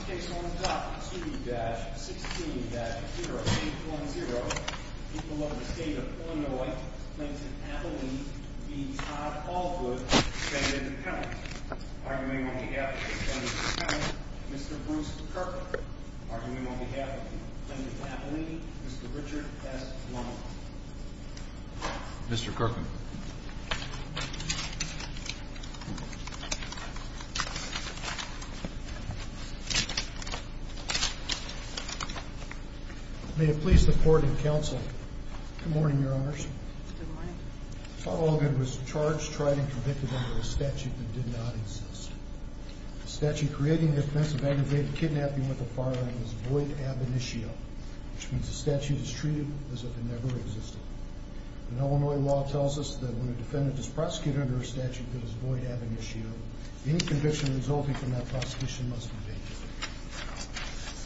Case 1.2-16-0810, people of the state of Illinois, Plainton, Appalachia v. Todd Allgood, defendant appellant. Arguing on behalf of the defendant appellant, Mr. Bruce Kirkland. Arguing on behalf of the people of Plainton, Appalachia, Mr. Richard S. Loma. Mr. Kirkland. May it please the court and counsel. Good morning, your honors. Good morning. Todd Allgood was charged, tried, and convicted under a statute that did not exist. The statute creating the offense of aggravated kidnapping with a firearm is void ab initio, which means the statute is treated as if it never existed. Illinois law tells us that when a defendant is prosecuted under a statute that is void ab initio, any conviction resulting from that prosecution must be made.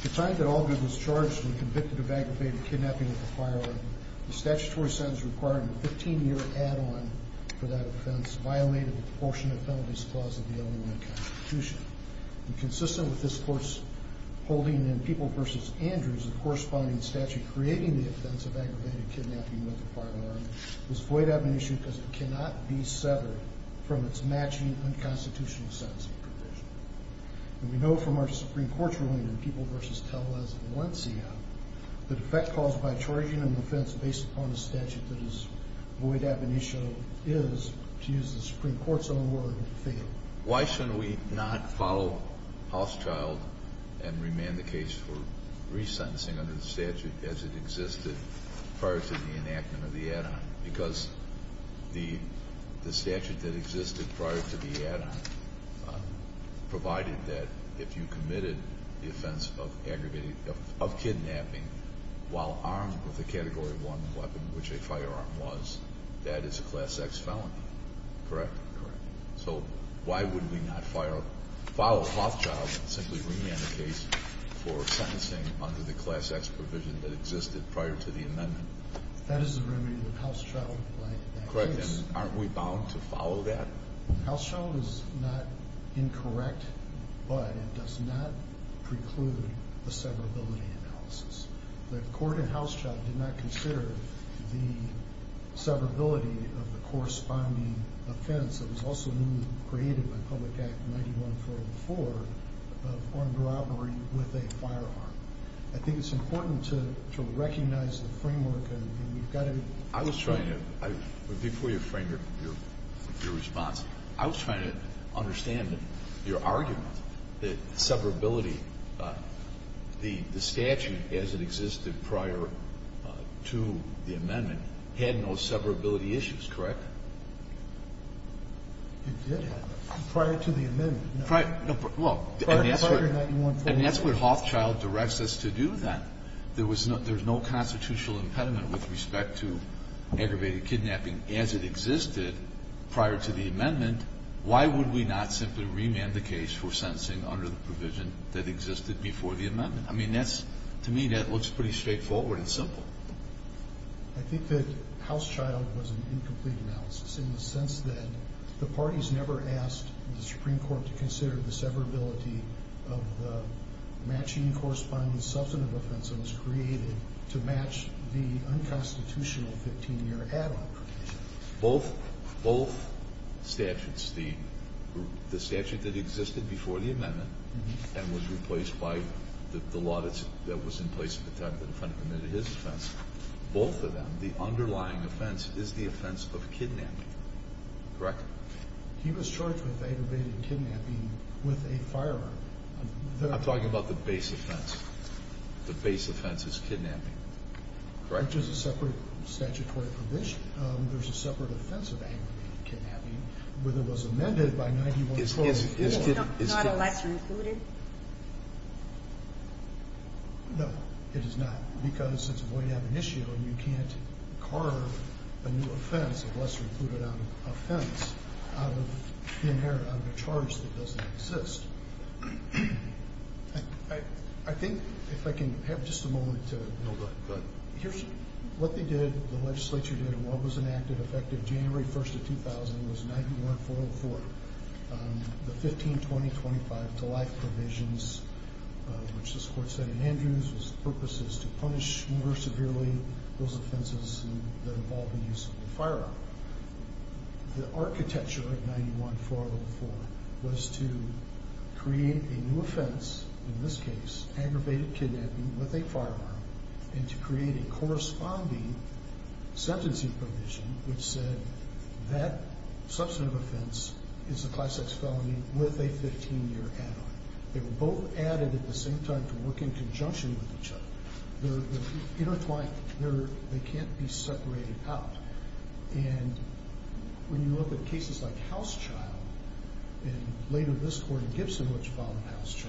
The time that Allgood was charged and convicted of aggravated kidnapping with a firearm, the statutory sentence requiring a 15-year add-on for that offense violated the proportionate penalties clause of the Illinois Constitution. Consistent with this court's holding in People v. Andrews, the corresponding statute creating the offense of aggravated kidnapping with a firearm is void ab initio because it cannot be severed from its matching unconstitutional sentencing provision. And we know from our Supreme Court's ruling in People v. Tellez in 1 CF, the defect caused by charging an offense based upon a statute that is void ab initio is, to use the Supreme Court's own word, fatal. Why shouldn't we not follow Houschild and remand the case for resentencing under the statute as it existed prior to the enactment of the add-on? Because the statute that existed prior to the add-on provided that if you committed the offense of kidnapping while armed with a Category 1 weapon, which a firearm was, that is a Class X felony. Correct? Correct. So why wouldn't we not follow Houschild and simply remand the case for sentencing under the Class X provision that existed prior to the amendment? That is the remedy with Houschild, right? Correct. And aren't we bound to follow that? Houschild is not incorrect, but it does not preclude the severability analysis. The court in Houschild did not consider the severability of the corresponding offense that was also newly created by Public Act 9144 of armed robbery with a firearm. I think it's important to recognize the framework, and we've got to – I was trying to – before you frame your response, I was trying to understand your argument that severability, the statute as it existed prior to the amendment, had no severability issues, correct? It did have. Prior to the amendment. Well, and that's what Houschild directs us to do, then. If there's no constitutional impediment with respect to aggravated kidnapping as it existed prior to the amendment, why would we not simply remand the case for sentencing under the provision that existed before the amendment? I mean, that's – to me, that looks pretty straightforward and simple. I think that Houschild was an incomplete analysis in the sense that the parties never asked the Supreme Court to consider the severability of the matching corresponding substantive offense that was created to match the unconstitutional 15-year add-on provision. Both statutes, the statute that existed before the amendment and was replaced by the law that was in place at the time the defendant committed his offense, both of them, the underlying offense is the offense of kidnapping, correct? He was charged with aggravated kidnapping with a firearm. I'm talking about the base offense. The base offense is kidnapping, correct? As much as a separate statutory provision, there's a separate offense of aggravated kidnapping where it was amended by 1912. It's not a lesser included? No, it is not, because it's a void ad initio, and you can't carve a new offense, a lesser included offense, out of the charge that doesn't exist. I think, if I can have just a moment to – No, go ahead. Here's what they did, the legislature did, and what was enacted effective January 1st of 2000 was 91-404, the 15-2025-to-life provisions, which this Court said in Andrews was purposes to punish more severely those offenses that involve the use of a firearm. The architecture of 91-404 was to create a new offense, in this case, aggravated kidnapping with a firearm, and to create a corresponding sentencing provision which said that substantive offense is a Class X felony with a 15-year add-on. They were both added at the same time to work in conjunction with each other. They're intertwined. They can't be separated out. And when you look at cases like Housechild, and later this Court in Gibson, which followed Housechild,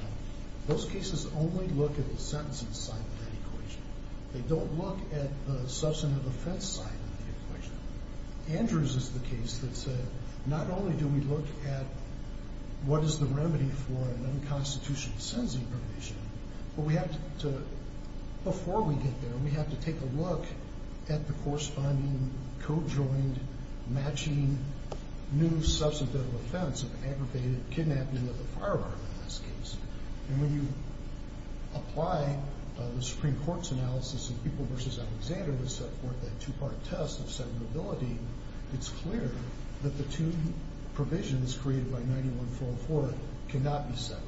those cases only look at the sentencing side of that equation. They don't look at the substantive offense side of the equation. Andrews is the case that said, not only do we look at what is the remedy for an unconstitutional sentencing provision, but we have to – before we get there, we have to take a look at the corresponding, co-joined, matching new substantive offense of aggravated kidnapping with a firearm in this case. And when you apply the Supreme Court's analysis of People v. Alexander to support that two-part test of severability, it's clear that the two provisions created by 91-404 cannot be severed.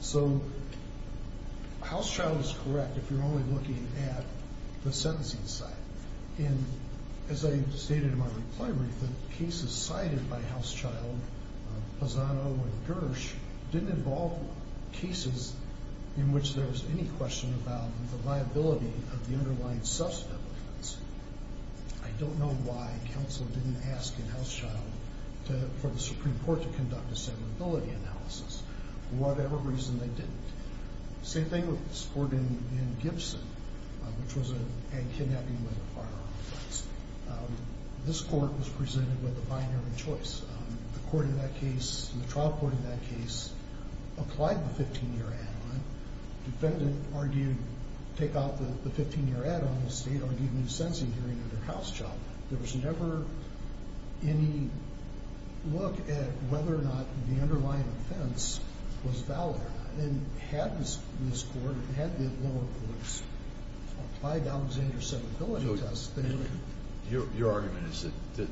So, Housechild is correct if you're only looking at the sentencing side. And as I stated in my reply brief, the cases cited by Housechild, Lozano, and Gersh didn't involve cases in which there's any question about the liability of the underlying substantive offense. I don't know why counsel didn't ask in Housechild for the Supreme Court to conduct a severability analysis. For whatever reason, they didn't. Same thing with this court in Gibson, which was a kidnapping with a firearm offense. This court was presented with a binary choice. The court in that case, the trial court in that case, applied the 15-year add-on. The defendant argued take out the 15-year add-on. The state argued new sentencing hearing under Housechild. There was never any look at whether or not the underlying offense was valid. And had this court, had the lower courts, applied Alexander's severability test, they would have. Your argument is that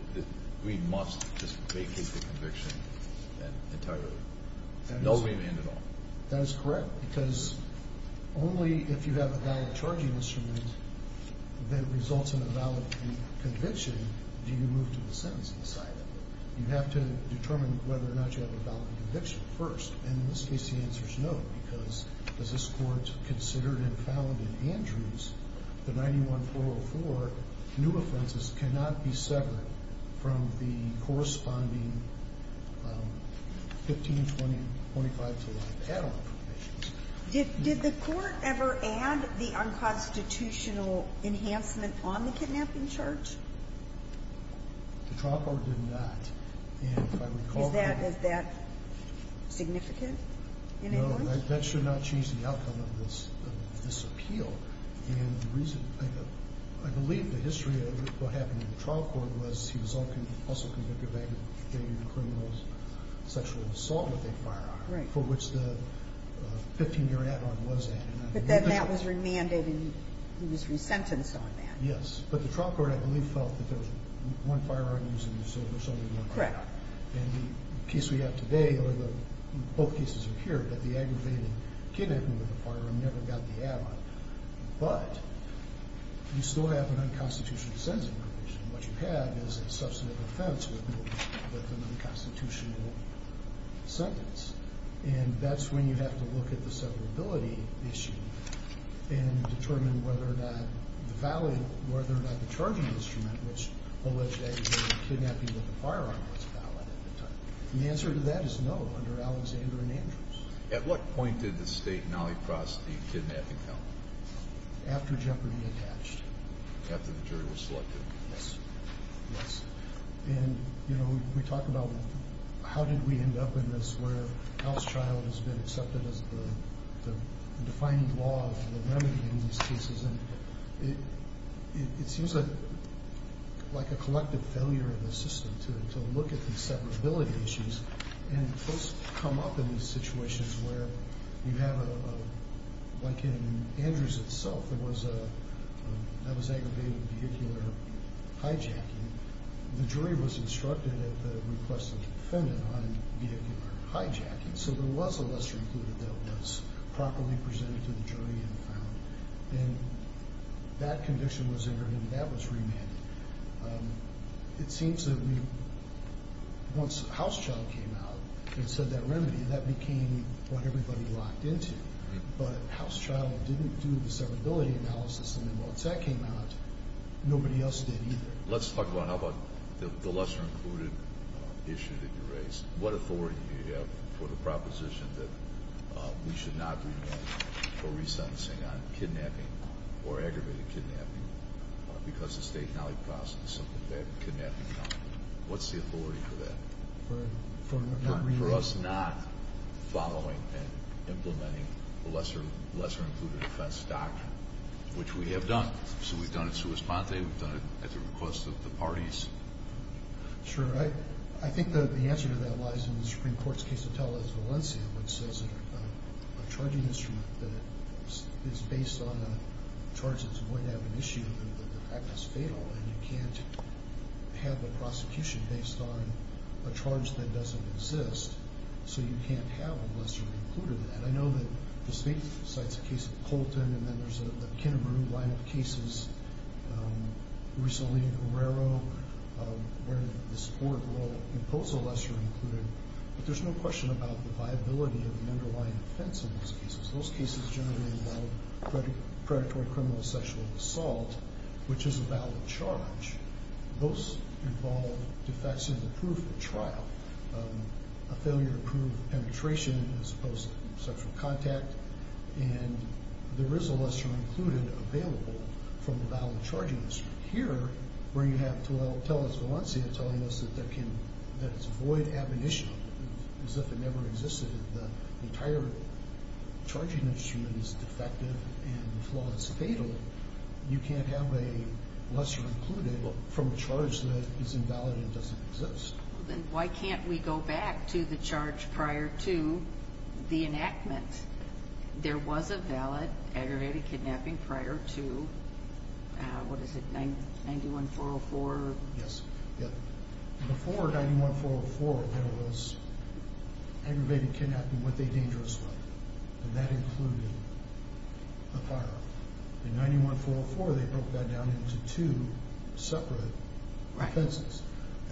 we must just vacate the conviction entirely. No remand at all. That is correct, because only if you have a valid charging instrument that results in a valid conviction do you move to the sentencing side. You have to determine whether or not you have a valid conviction first. In this case, the answer is no, because as this court considered and found in Andrews, the 91404 new offenses cannot be severed from the corresponding 15, 20, 25 to life add-on provisions. Did the court ever add the unconstitutional enhancement on the kidnapping charge? The trial court did not. And if I recall correctly... Is that significant in any way? No, that should not change the outcome of this appeal. And the reason, I believe the history of what happened in the trial court was he was also convicted of having committed a criminal sexual assault with a firearm. Right. For which the 15-year add-on was added. But then that was remanded and he was resentenced on that. Yes. But the trial court, I believe, felt that there was one firearm used and there was only one add-on. Correct. In the case we have today, or in both cases here, that the aggravated kidnapping with a firearm never got the add-on. But you still have an unconstitutional sentencing provision. What you have is a substantive offense with an unconstitutional sentence. And that's when you have to look at the severability issue and determine whether or not the valid, whether or not the charging instrument, which alleged that he was kidnapping with a firearm, was valid at the time. And the answer to that is no, under Alexander and Andrews. At what point did the state nollifrost the kidnapping count? After Jeopardy! attached. After the jury was selected. Yes. And, you know, we talk about how did we end up in this where Al's trial has been accepted as the defining law of the remedy in these cases. It seems like a collective failure of the system to look at these severability issues. And folks come up in these situations where you have, like in Andrews itself, that was aggravated vehicular hijacking. The jury was instructed at the request of the defendant on vehicular hijacking. So there was a lesser included that was properly presented to the jury and found. And that condition was entered and that was remanded. It seems that once Housechild came out and said that remedy, that became what everybody locked into. But Housechild didn't do the severability analysis. And then once that came out, nobody else did either. Let's talk about how about the lesser included issue that you raised. What authority do you have for the proposition that we should not remand for resentencing on kidnapping or aggravated kidnapping because the state nollifrosted the kidnapping count? What's the authority for that? For us not following and implementing the lesser included offense doctrine, which we have done. So we've done it sua sponte. We've done it at the request of the parties. Sure. I think the answer to that lies in the Supreme Court's case to tell us Valencia, which says that a charging instrument that is based on charges would have an issue. And you can't have a prosecution based on a charge that doesn't exist. So you can't have a lesser included. And I know that the state cites a case of Colton and then there's a line of cases recently in Guerrero where this court will impose a lesser included. But there's no question about the viability of the underlying offense in those cases. Those cases generally involve predatory criminal sexual assault, which is a valid charge. Those involve defects in the proof of trial, a failure to prove penetration as opposed to sexual contact. And there is a lesser included available from the valid charging instrument. Here, where you have to tell us Valencia, telling us that it's a void admonition, as if it never existed, the entire charging instrument is defective and the flaw is fatal, you can't have a lesser included from a charge that is invalid and doesn't exist. Then why can't we go back to the charge prior to the enactment? There was a valid aggravated kidnapping prior to, what is it, 9-1-4-0-4? Yes. Before 9-1-4-0-4, there was aggravated kidnapping with a dangerous weapon, and that included a firearm. In 9-1-4-0-4, they broke that down into two separate offenses.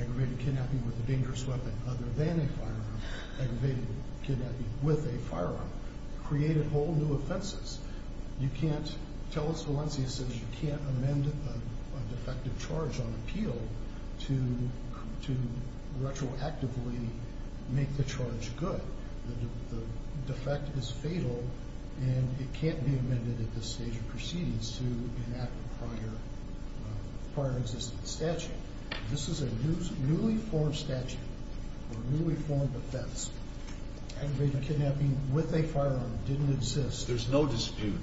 Aggravated kidnapping with a dangerous weapon other than a firearm. Aggravated kidnapping with a firearm. Created whole new offenses. You can't tell us Valencia says you can't amend a defective charge on appeal to retroactively make the charge good. The defect is fatal, and it can't be amended at this stage of proceedings to enact a prior existing statute. This is a newly formed statute, or newly formed offense. Aggravated kidnapping with a firearm didn't exist. There's no dispute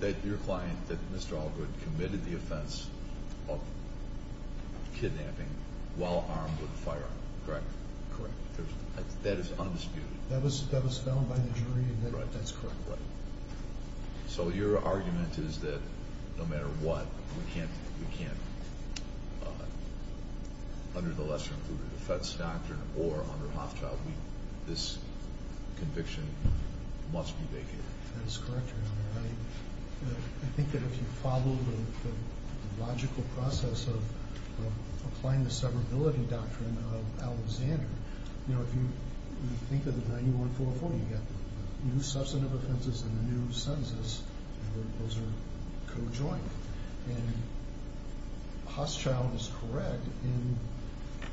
that your client, that Mr. Allgood, committed the offense of kidnapping while armed with a firearm, correct? Correct. That is undisputed? That was found by the jury and that's correct. So your argument is that no matter what, we can't, under the lesser-included defense doctrine, or under Hoffchild, this conviction must be vacated? That is correct, Your Honor. I think that if you follow the logical process of applying the severability doctrine of Alexander, you know, if you think of the 9144, you've got the new substantive offenses and the new sentences, and those are co-joined. And Hoffchild is correct in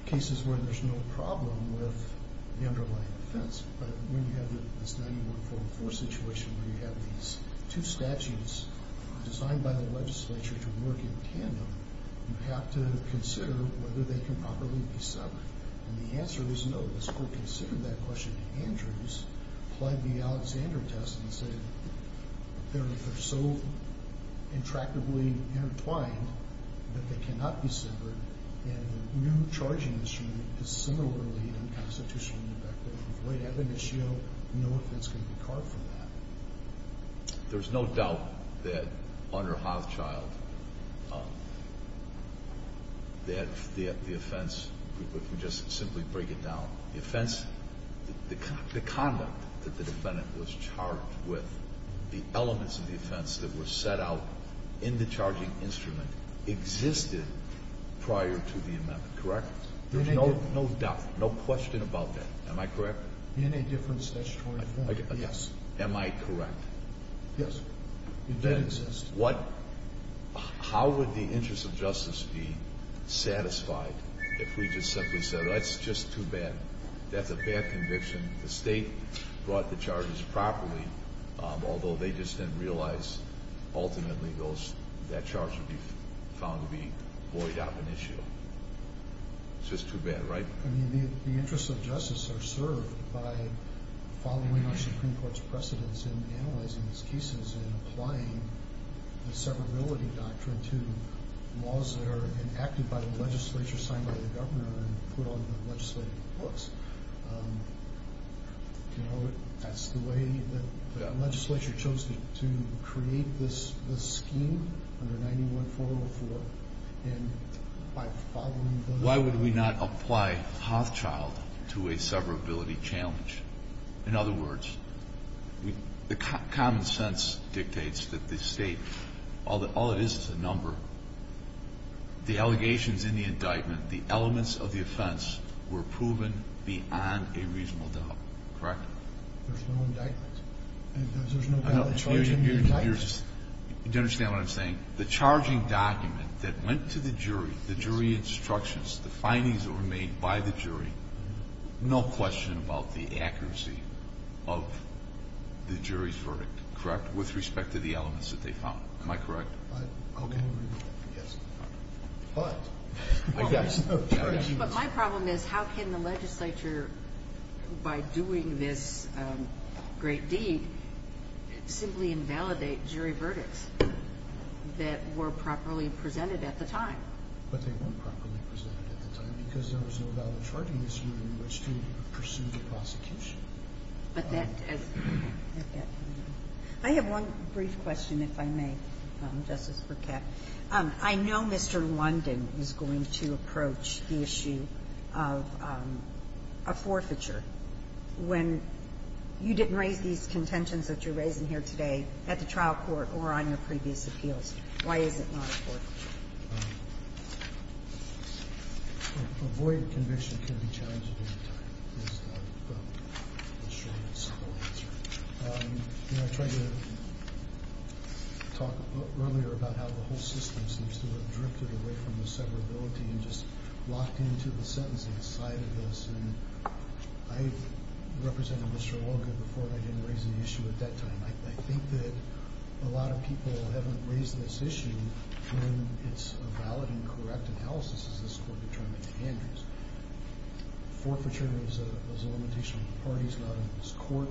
cases where there's no problem with the underlying offense, but when you have this 9144 situation where you have these two statutes designed by the legislature to work in tandem, you have to consider whether they can properly be severed. And the answer is no. Let's go consider that question. Andrews applied the Alexander test and said they're so intractably intertwined that they cannot be severed, and the new charging instrument is similarly unconstitutional in effect. If we avoid ab initio, no offense can be carved from that. There's no doubt that under Hoffchild that the offense, if we could just simply break it down, the offense, the conduct that the defendant was charged with, the elements of the offense that were set out in the charging instrument existed prior to the amendment, correct? There's no doubt, no question about that. Am I correct? In a different statutory form, yes. Am I correct? Yes. It did exist. How would the interest of justice be satisfied if we just simply said, oh, that's just too bad. That's a bad conviction. The state brought the charges properly, although they just didn't realize ultimately that charge would be found to be void ab initio. It's just too bad, right? The interests of justice are served by following our Supreme Court's precedence in analyzing these cases and applying the severability doctrine to laws that are enacted by the legislature, signed by the governor, and put on legislative books. That's the way the legislature chose to create this scheme under 91404. Why would we not apply Hoffchild to a severability challenge? In other words, the common sense dictates that the state, all it is is a number. The allegations in the indictment, the elements of the offense were proven beyond a reasonable doubt, correct? There's no indictment. There's no valid charge in the indictment. Do you understand what I'm saying? The charging document that went to the jury, the jury instructions, the findings that were made by the jury, no question about the accuracy of the jury's verdict, correct, with respect to the elements that they found. Am I correct? But my problem is how can the legislature, by doing this great deed, simply invalidate jury verdicts that were properly presented at the time? But they weren't properly presented at the time because there was no valid charge in this hearing in which to pursue the prosecution. I have one brief question, if I may, Justice Burkett. I know Mr. London is going to approach the issue of a forfeiture when you didn't raise these contentions that you're raising here today at the trial court or on your previous appeals. Why is it not a forfeiture? Avoid conviction can be challenging at any time, is the short and simple answer. You know, I tried to talk earlier about how the whole system seems to have drifted away from the severability and just locked into the sentencing side of this. And I've represented Mr. Logan before, and I didn't raise the issue at that time. I think that a lot of people haven't raised this issue when it's a valid and correct analysis, as this Court determined in Andrews. Forfeiture is a limitation on the parties, not on this Court.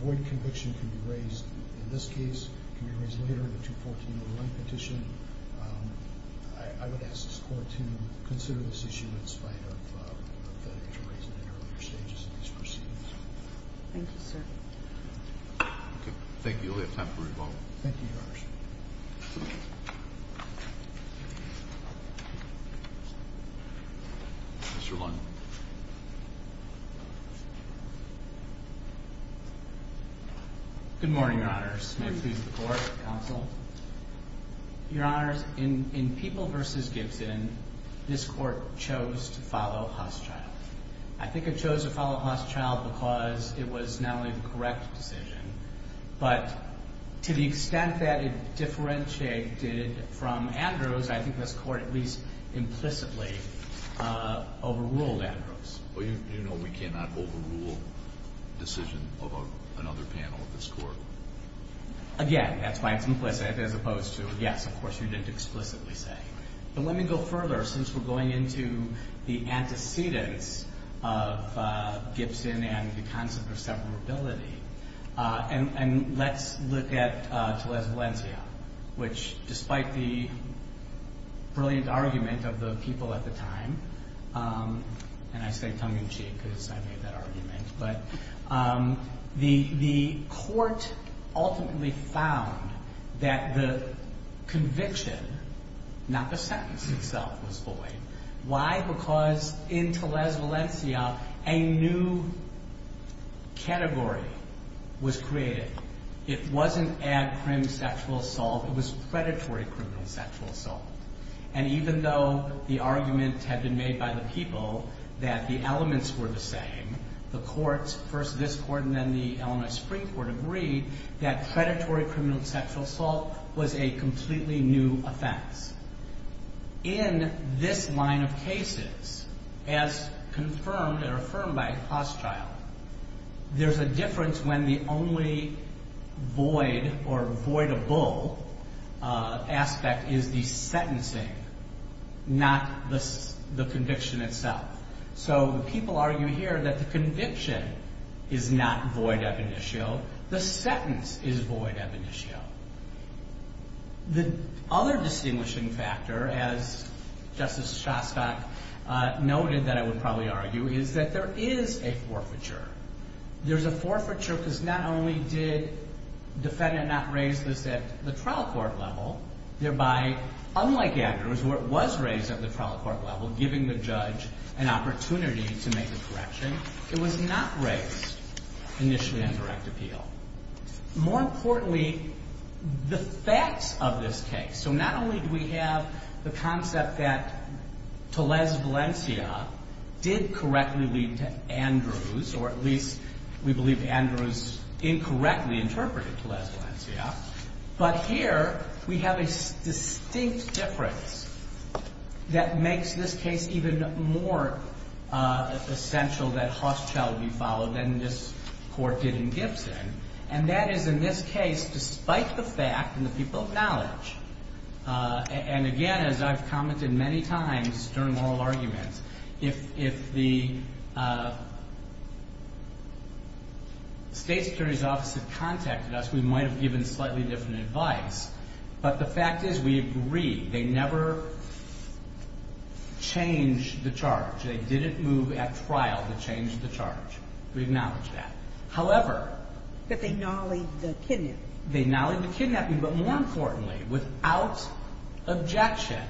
Avoid conviction can be raised in this case, can be raised later in the 214.01 petition. I would ask this Court to consider this issue in spite of the interpretation in earlier stages of these proceedings. Thank you, sir. Okay, thank you. We have time for a revolt. Thank you, Your Honor. Mr. London. Good morning, Your Honor. May it please the Court, counsel. Your Honor, in People v. Gibson, this Court chose to follow Husschild. I think it chose to follow Husschild because it was not only the correct decision, but to the extent that it differentiated from Andrews, I think this Court at least implicitly overruled Andrews. Well, you know we cannot overrule a decision of another panel of this Court. Again, that's why it's implicit as opposed to, yes, of course you didn't explicitly say. But let me go further, since we're going into the antecedents of Gibson and the concept of separability. And let's look at Teles Valencia, which despite the brilliant argument of the people at the time, and I say tongue-in-cheek because I made that argument, but the Court ultimately found that the conviction, not the sentence itself, was void. Why? Because in Teles Valencia, a new category was created. It wasn't ad crim sexual assault. It was predatory criminal sexual assault. And even though the argument had been made by the people that the elements were the same, the Courts, first this Court and then the Illinois Supreme Court, agreed that predatory criminal sexual assault was a completely new offense. In this line of cases, as confirmed or affirmed by Hostile, there's a difference when the only void or voidable aspect is the sentencing, not the conviction itself. So people argue here that the conviction is not void ab initio. The sentence is void ab initio. The other distinguishing factor, as Justice Shostak noted that I would probably argue, is that there is a forfeiture. There's a forfeiture because not only did defendant not raise this at the trial court level, thereby, unlike aggregators where it was raised at the trial court level, giving the judge an opportunity to make a correction, it was not raised initially as a direct appeal. More importantly, the facts of this case. So not only do we have the concept that Tellez Valencia did correctly lead to Andrews, or at least we believe Andrews incorrectly interpreted Tellez Valencia, but here we have a distinct difference that makes this case even more essential that Hostile be followed than this Court did in Gibson. And that is, in this case, despite the fact, and the people acknowledge, and again, as I've commented many times during oral arguments, if the State's Attorney's Office had contacted us, we might have given slightly different advice. But the fact is we agree. They never changed the charge. They didn't move at trial to change the charge. We acknowledge that. However. That they nollied the kidnapping. They nollied the kidnapping. But more importantly, without objection,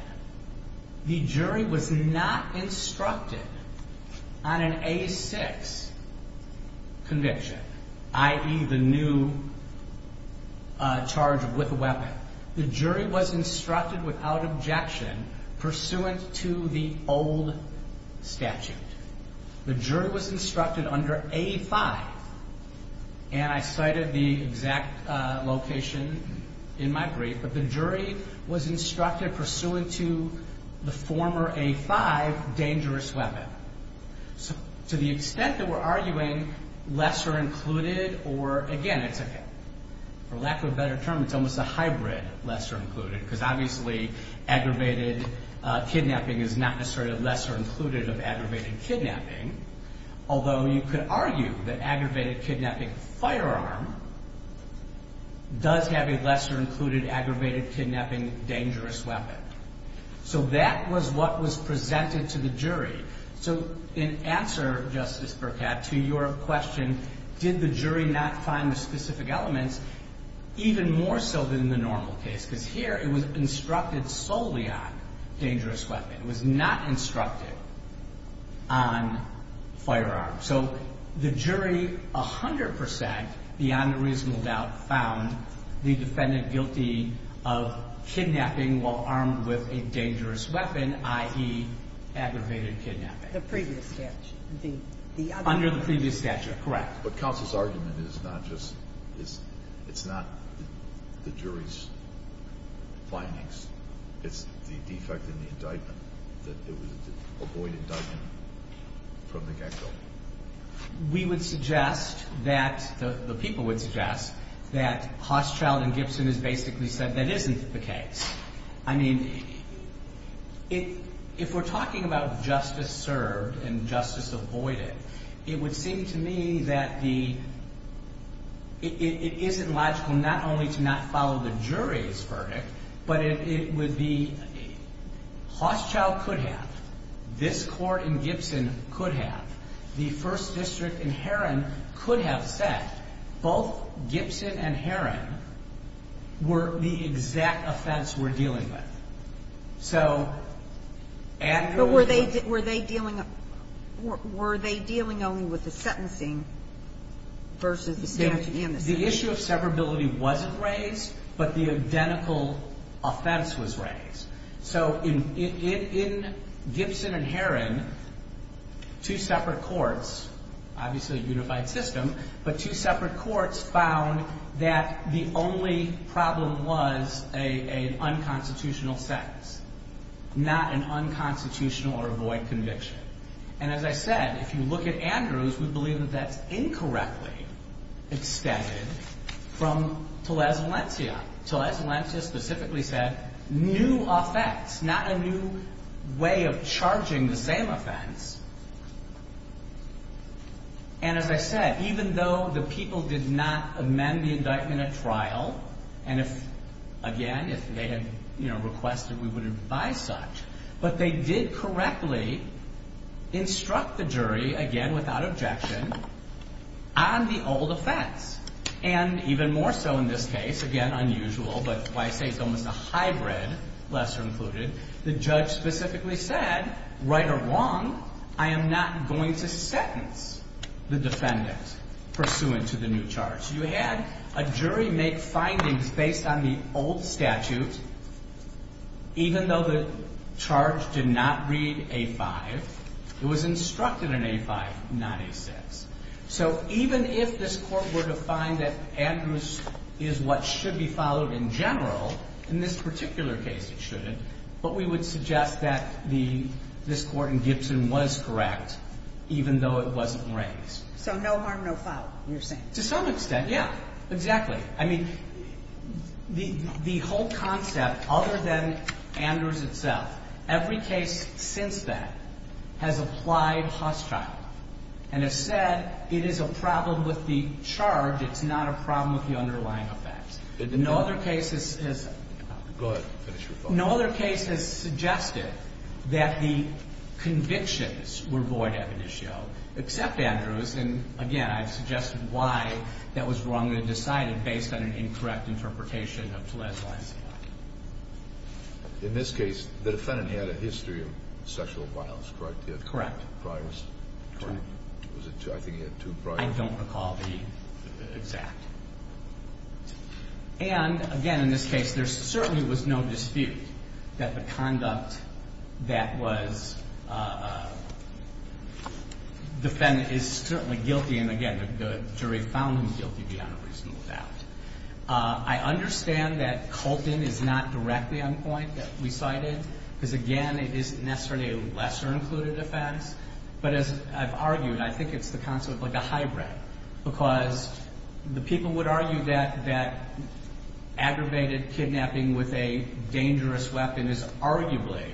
the jury was not instructed on an A6 conviction, i.e., the new charge with a weapon. The jury was instructed without objection pursuant to the old statute. The jury was instructed under A5. And I cited the exact location in my brief, but the jury was instructed pursuant to the former A5 dangerous weapon. So to the extent that we're arguing lesser included or, again, it's a, for lack of a better term, it's almost a hybrid lesser included. Because obviously aggravated kidnapping is not necessarily a lesser included of aggravated kidnapping. Although you could argue that aggravated kidnapping firearm does have a lesser included aggravated kidnapping dangerous weapon. So that was what was presented to the jury. So in answer, Justice Burkett, to your question, did the jury not find the specific elements even more so than in the normal case? Because here it was instructed solely on dangerous weapon. It was not instructed on firearm. So the jury 100 percent, beyond a reasonable doubt, found the defendant guilty of kidnapping while armed with a dangerous weapon, i.e., aggravated kidnapping. The previous statute. Under the previous statute, correct. But counsel's argument is not just, it's not the jury's findings. It's the defect in the indictment, that it was an avoid indictment from the get-go. We would suggest that, the people would suggest, that Hochschild and Gibson has basically said that isn't the case. I mean, if we're talking about justice served and justice avoided, it would seem to me that the, it isn't logical not only to not follow the jury's verdict. But it would be, Hochschild could have. This Court in Gibson could have. The First District in Heron could have said both Gibson and Heron were the exact offense we're dealing with. So, and there was a... But were they dealing, were they dealing only with the sentencing versus the statute and the statute? The issue of severability wasn't raised, but the identical offense was raised. So, in Gibson and Heron, two separate courts, obviously a unified system, but two separate courts found that the only problem was an unconstitutional sentence. Not an unconstitutional or avoid conviction. And as I said, if you look at Andrews, we believe that that's incorrectly extended from Tellez Valencia. Tellez Valencia specifically said, new offense, not a new way of charging the same offense. And as I said, even though the people did not amend the indictment at trial, and if, again, if they had, you know, requested we would advise such. But they did correctly instruct the jury, again, without objection, on the old offense. And even more so in this case, again, unusual, but why I say it's almost a hybrid, lesser included, the judge specifically said, right or wrong, I am not going to sentence the defendant pursuant to the new charge. You had a jury make findings based on the old statute, even though the charge did not read A5. It was instructed in A5, not A6. So, even if this Court were to find that Andrews is what should be followed in general, in this particular case it shouldn't, but we would suggest that this Court in Gibson was correct, even though it wasn't raised. So, no harm, no foul, you're saying? To some extent, yeah, exactly. I mean, the whole concept, other than Andrews itself, every case since then has applied hostile. And as said, it is a problem with the charge, it's not a problem with the underlying offense. No other case has suggested that the convictions were void evidentio, except Andrews. And, again, I've suggested why that was wrongly decided based on an incorrect interpretation of Gillette's lines of law. In this case, the defendant had a history of sexual violence, correct? Correct. I think he had two prior. I don't recall the exact. And, again, in this case, there certainly was no dispute that the conduct that was defended is certainly guilty. And, again, the jury found him guilty beyond a reasonable doubt. I understand that Colton is not directly on point, that we cited, because, again, it isn't necessarily a lesser-included offense. But, as I've argued, I think it's the concept of a hybrid. Because the people would argue that aggravated kidnapping with a dangerous weapon is arguably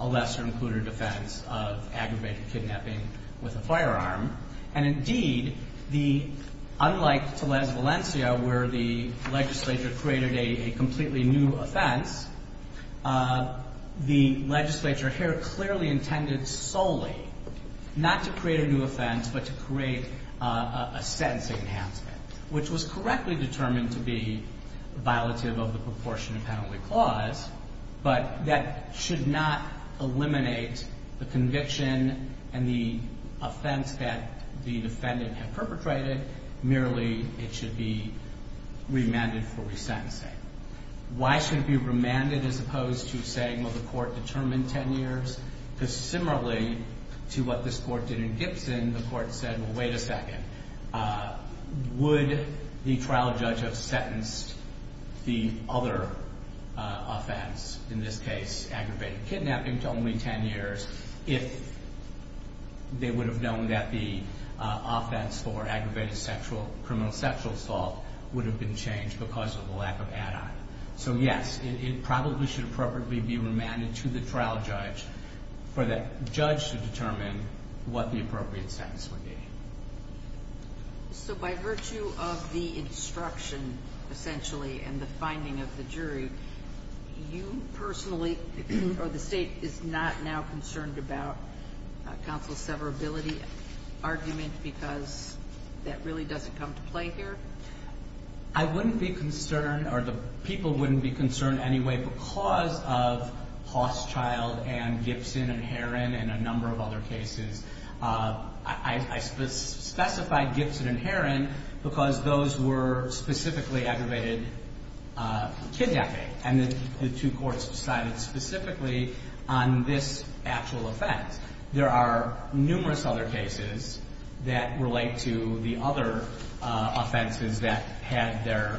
a lesser-included offense of aggravated kidnapping with a firearm. And, indeed, unlike Telez Valencia, where the legislature created a completely new offense, the legislature here clearly intended solely not to create a new offense, but to create a sentencing enhancement, which was correctly determined to be violative of the proportionate penalty clause, but that should not eliminate the conviction and the offense that the defendant had perpetrated. Merely, it should be remanded for resentencing. Why should it be remanded as opposed to saying, well, the court determined 10 years? Because, similarly to what this court did in Gibson, the court said, well, wait a second. Would the trial judge have sentenced the other offense, in this case aggravated kidnapping, to only 10 years if they would have known that the offense for aggravated criminal sexual assault would have been changed because of the lack of add-on? So, yes, it probably should appropriately be remanded to the trial judge for that judge to determine what the appropriate sentence would be. So, by virtue of the instruction, essentially, and the finding of the jury, you personally, or the state, is not now concerned about counsel's severability argument because that really doesn't come to play here? I wouldn't be concerned, or the people wouldn't be concerned anyway, because of Hausschild and Gibson and Herron and a number of other cases. I specified Gibson and Herron because those were specifically aggravated kidnapping, and the two courts decided specifically on this actual offense. There are numerous other cases that relate to the other offenses that had their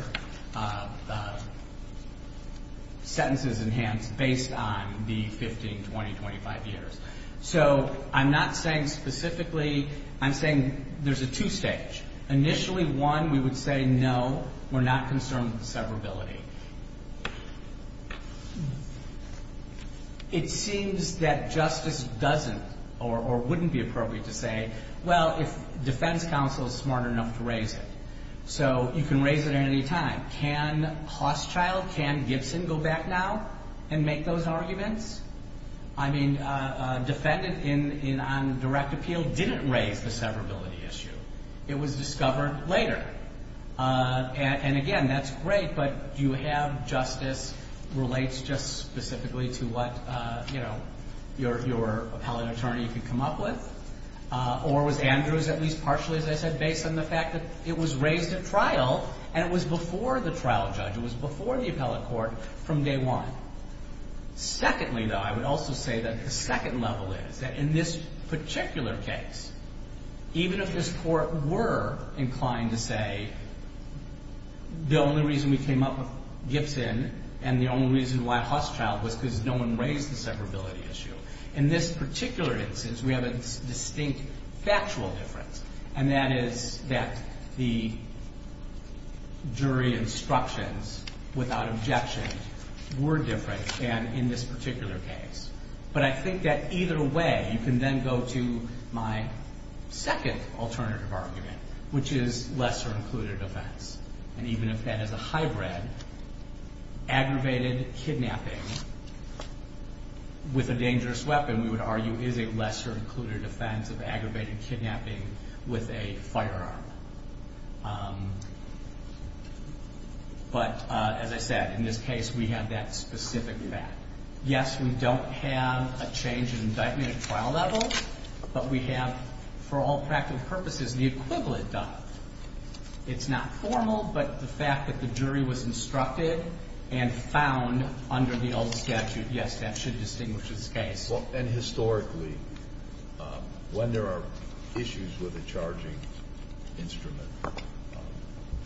sentences enhanced based on the 15, 20, 25 years. So, I'm not saying specifically, I'm saying there's a two-stage. Initially, one, we would say, no, we're not concerned with the severability. It seems that justice doesn't, or wouldn't be appropriate to say, well, if defense counsel is smart enough to raise it. So, you can raise it at any time. Can Hausschild, can Gibson go back now and make those arguments? I mean, defendant on direct appeal didn't raise the severability issue. It was discovered later. And again, that's great, but do you have justice relates just specifically to what, you know, your appellate attorney could come up with? Or was Andrews at least partially, as I said, based on the fact that it was raised at trial and it was before the trial judge, it was before the appellate court from day one? Secondly, though, I would also say that the second level is that in this particular case, even if this court were inclined to say the only reason we came up with Gibson and the only reason why Hausschild was because no one raised the severability issue, in this particular instance, we have a distinct factual difference. And that is that the jury instructions without objection were different than in this particular case. But I think that either way, you can then go to my second alternative argument, which is lesser included offense. And even if that is a hybrid, aggravated kidnapping with a dangerous weapon, we would argue is a lesser included offense of aggravated kidnapping with a firearm. But as I said, in this case, we have that specific fact. Yes, we don't have a change in indictment at trial level, but we have, for all practical purposes, the equivalent done. It's not formal, but the fact that the jury was instructed and found under the old statute, yes, that should distinguish this case. And historically, when there are issues with a charging instrument,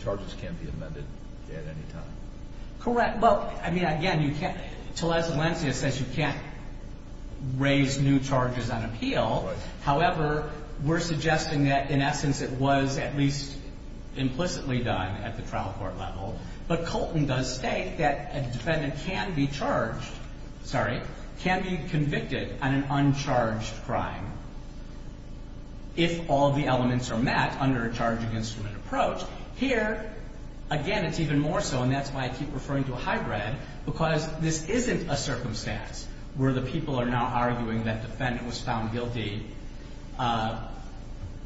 charges can't be amended at any time. Correct. Well, I mean, again, you can't. Tulles and Lencia says you can't raise new charges on appeal. Right. However, we're suggesting that, in essence, it was at least implicitly done at the trial court level. But Colton does state that a defendant can be charged, sorry, can be convicted on an uncharged crime if all the elements are met under a charging instrument approach. Here, again, it's even more so, and that's why I keep referring to a hybrid, because this isn't a circumstance where the people are now arguing that defendant was found guilty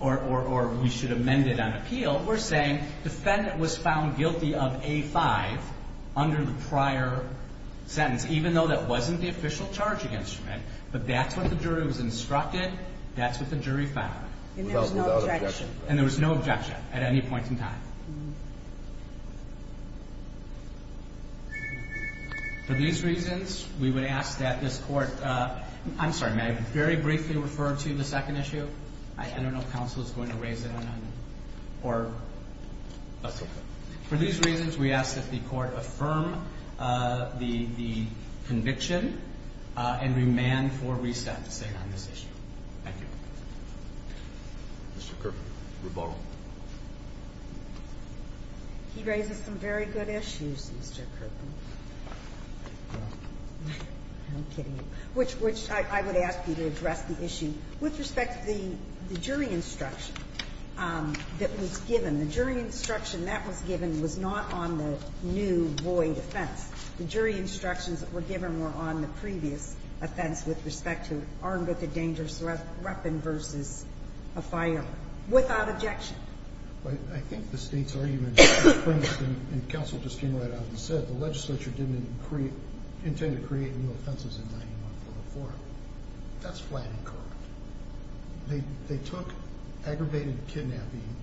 or we should amend it on appeal. What we're saying, defendant was found guilty of A-5 under the prior sentence, even though that wasn't the official charging instrument. But that's what the jury was instructed. That's what the jury found. And there was no objection. And there was no objection at any point in time. For these reasons, we would ask that this Court – I'm sorry, may I very briefly refer to the second issue? I don't know if counsel is going to raise it or not. That's okay. For these reasons, we ask that the Court affirm the conviction and remand for reset to stay on this issue. Thank you. Mr. Kerpen, rebuttal. He raises some very good issues, Mr. Kerpen. I'm kidding. I would ask you to address the issue with respect to the jury instruction that was given. The jury instruction that was given was not on the new void offense. The jury instructions that were given were on the previous offense with respect to armed with a dangerous weapon versus a firearm, without objection. But I think the State's argument, for instance, and counsel just came right out and said, the legislature didn't intend to create new offenses in 9144. That's flat and correct. They took aggravated kidnapping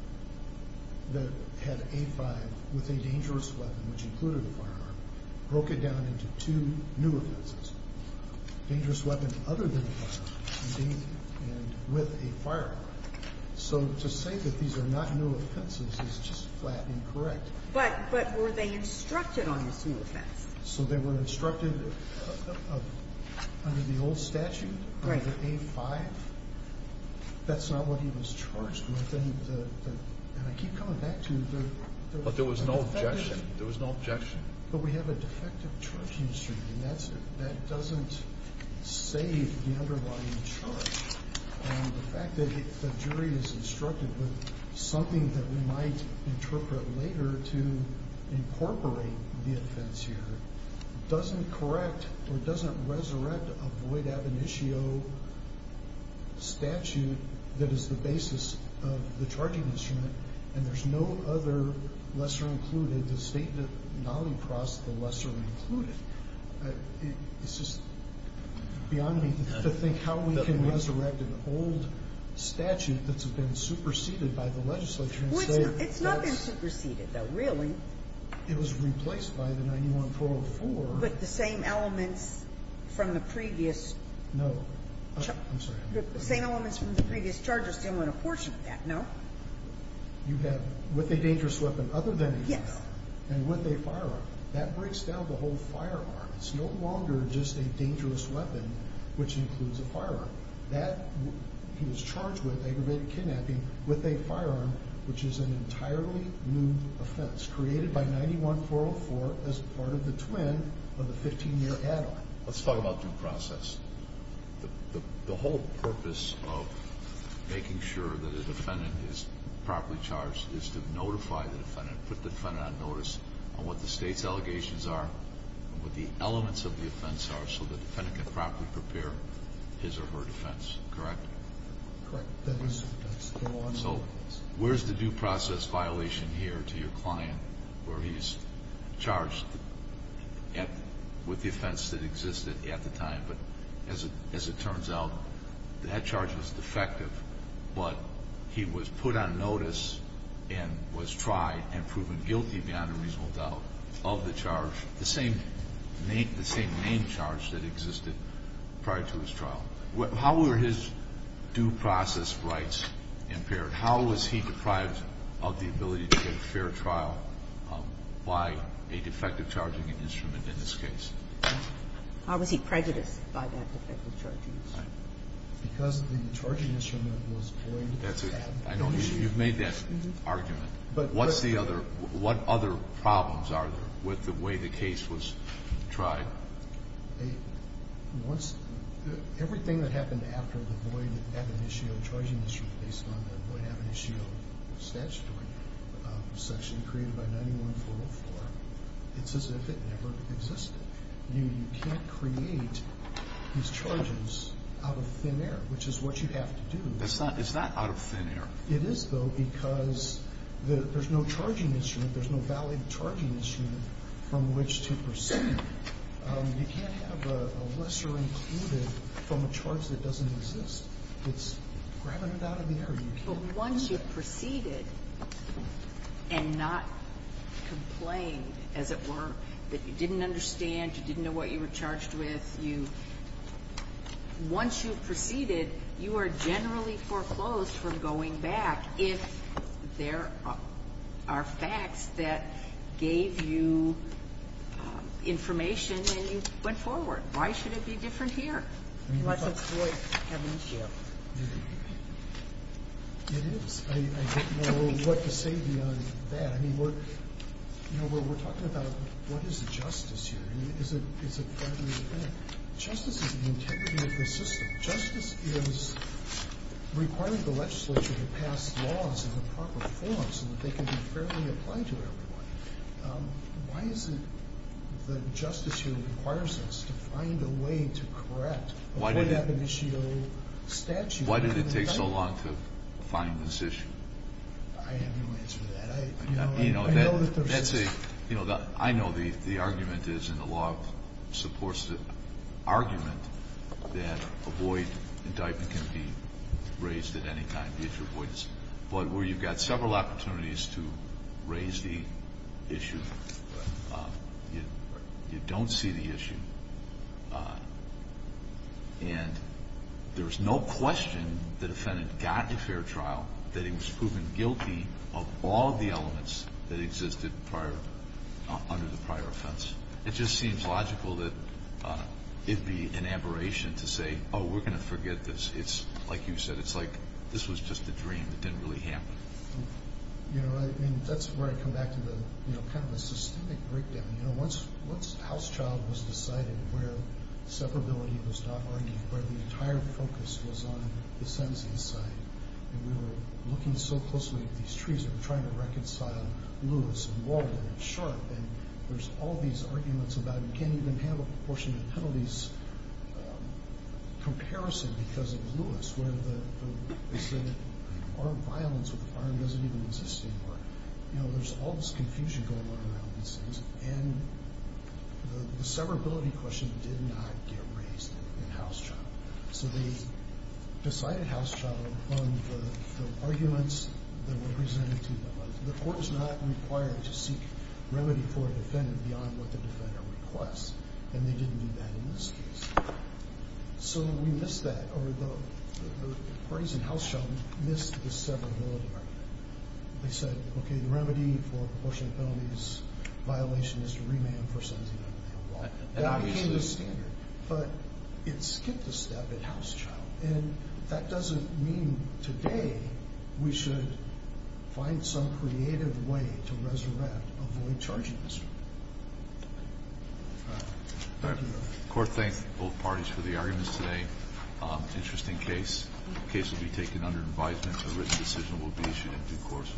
that had A5 with a dangerous weapon, which included a firearm, broke it down into two new offenses, dangerous weapon other than a firearm, and with a firearm. So to say that these are not new offenses is just flat and correct. But were they instructed on these new offenses? So they were instructed under the old statute, under the A5. That's not what he was charged with. And I keep coming back to the defendant. But there was no objection. There was no objection. But we have a defective charge history, and that doesn't save the underlying charge. The fact that the jury is instructed with something that we might interpret later to incorporate the offense here doesn't correct or doesn't resurrect a void ab initio statute that is the basis of the charging instrument. And there's no other lesser included. The State did not cross the lesser included. It's just beyond me to think how we can resurrect an old statute that's been superseded by the legislature. It's not been superseded, though, really. It was replaced by the 9144. But the same elements from the previous. No. I'm sorry. The same elements from the previous charges didn't win a portion of that, no? You have with a dangerous weapon other than a firearm and with a firearm. That breaks down the whole firearm. It's no longer just a dangerous weapon, which includes a firearm. He was charged with aggravated kidnapping with a firearm, which is an entirely new offense created by 91404 as part of the twin of the 15-year add-on. Let's talk about due process. The whole purpose of making sure that a defendant is properly charged is to notify the defendant, put the defendant on notice on what the State's allegations are, what the elements of the offense are, so the defendant can properly prepare his or her defense. Correct? Correct. So where's the due process violation here to your client where he's charged with the offense that existed at the time but, as it turns out, that charge was defective but he was put on notice and was tried and proven guilty beyond a reasonable doubt of the charge, the same main charge that existed prior to his trial. How were his due process rights impaired? How was he deprived of the ability to get a fair trial by a defective charging instrument in this case? How was he prejudiced by that defective charging instrument? Because the charging instrument was void at the time. That's it. I know. You've made that argument. But what's the other – what other problems are there with the way the case was tried? Everything that happened after the void ab initio charging instrument based on the void ab initio statutory section created by 91404, it's as if it never existed. You can't create these charges out of thin air, which is what you have to do. It's not out of thin air. It is, though, because there's no charging instrument, there's no valid charging instrument from which to proceed. You can't have a lesser included from a charge that doesn't exist. It's grabbing it out of the air. But once you've proceeded and not complained, as it were, that you didn't understand, you didn't know what you were charged with, you – once you've proceeded, you are generally foreclosed from going back if there are facts that gave you information and you went forward. Why should it be different here? Unless it's void ab initio. It is. I don't know what to say beyond that. I mean, we're – you know, we're talking about what is justice here. I mean, is it – is it – justice is the integrity of the system. Justice is requiring the legislature to pass laws in the proper form so that they can be fairly applied to everyone. Why is it that justice here requires us to find a way to correct a void ab initio statute? Why did it take so long to find this issue? I have no answer to that. You know, that's a – you know, I know the argument is in the law supports the argument that a void indictment can be raised at any time. But where you've got several opportunities to raise the issue, you don't see the issue. And there is no question the defendant got a fair trial, that he was proven guilty of all of the elements that existed prior – under the prior offense. It just seems logical that it'd be an aberration to say, oh, we're going to forget this. It's – like you said, it's like this was just a dream. It didn't really happen. You know, I mean, that's where I come back to the – you know, kind of a systemic breakdown. You know, once – once House Child was decided where separability was not argued, where the entire focus was on the sentencing side, and we were looking so closely at these trees and trying to reconcile Lewis and Walden and Sharp, and there's all these arguments about you can't even handle proportionate penalties comparison because of Lewis, where the – they said armed violence with a firearm doesn't even exist anymore. You know, there's all this confusion going on around these things, and the separability question did not get raised in House Child. So they decided House Child on the arguments that were presented to them. The court was not required to seek remedy for a defendant beyond what the defender requests, and they didn't do that in this case. So we missed that, or the parties in House Child missed the separability argument. They said, okay, the remedy for proportionate penalties violation is to remand for sentencing. That became the standard, but it skipped a step in House Child, and that doesn't mean today we should find some creative way to resurrect a void-charging district. All right. The court thanked both parties for the arguments today. Interesting case. The case will be taken under advisement. A written decision will be issued in due course.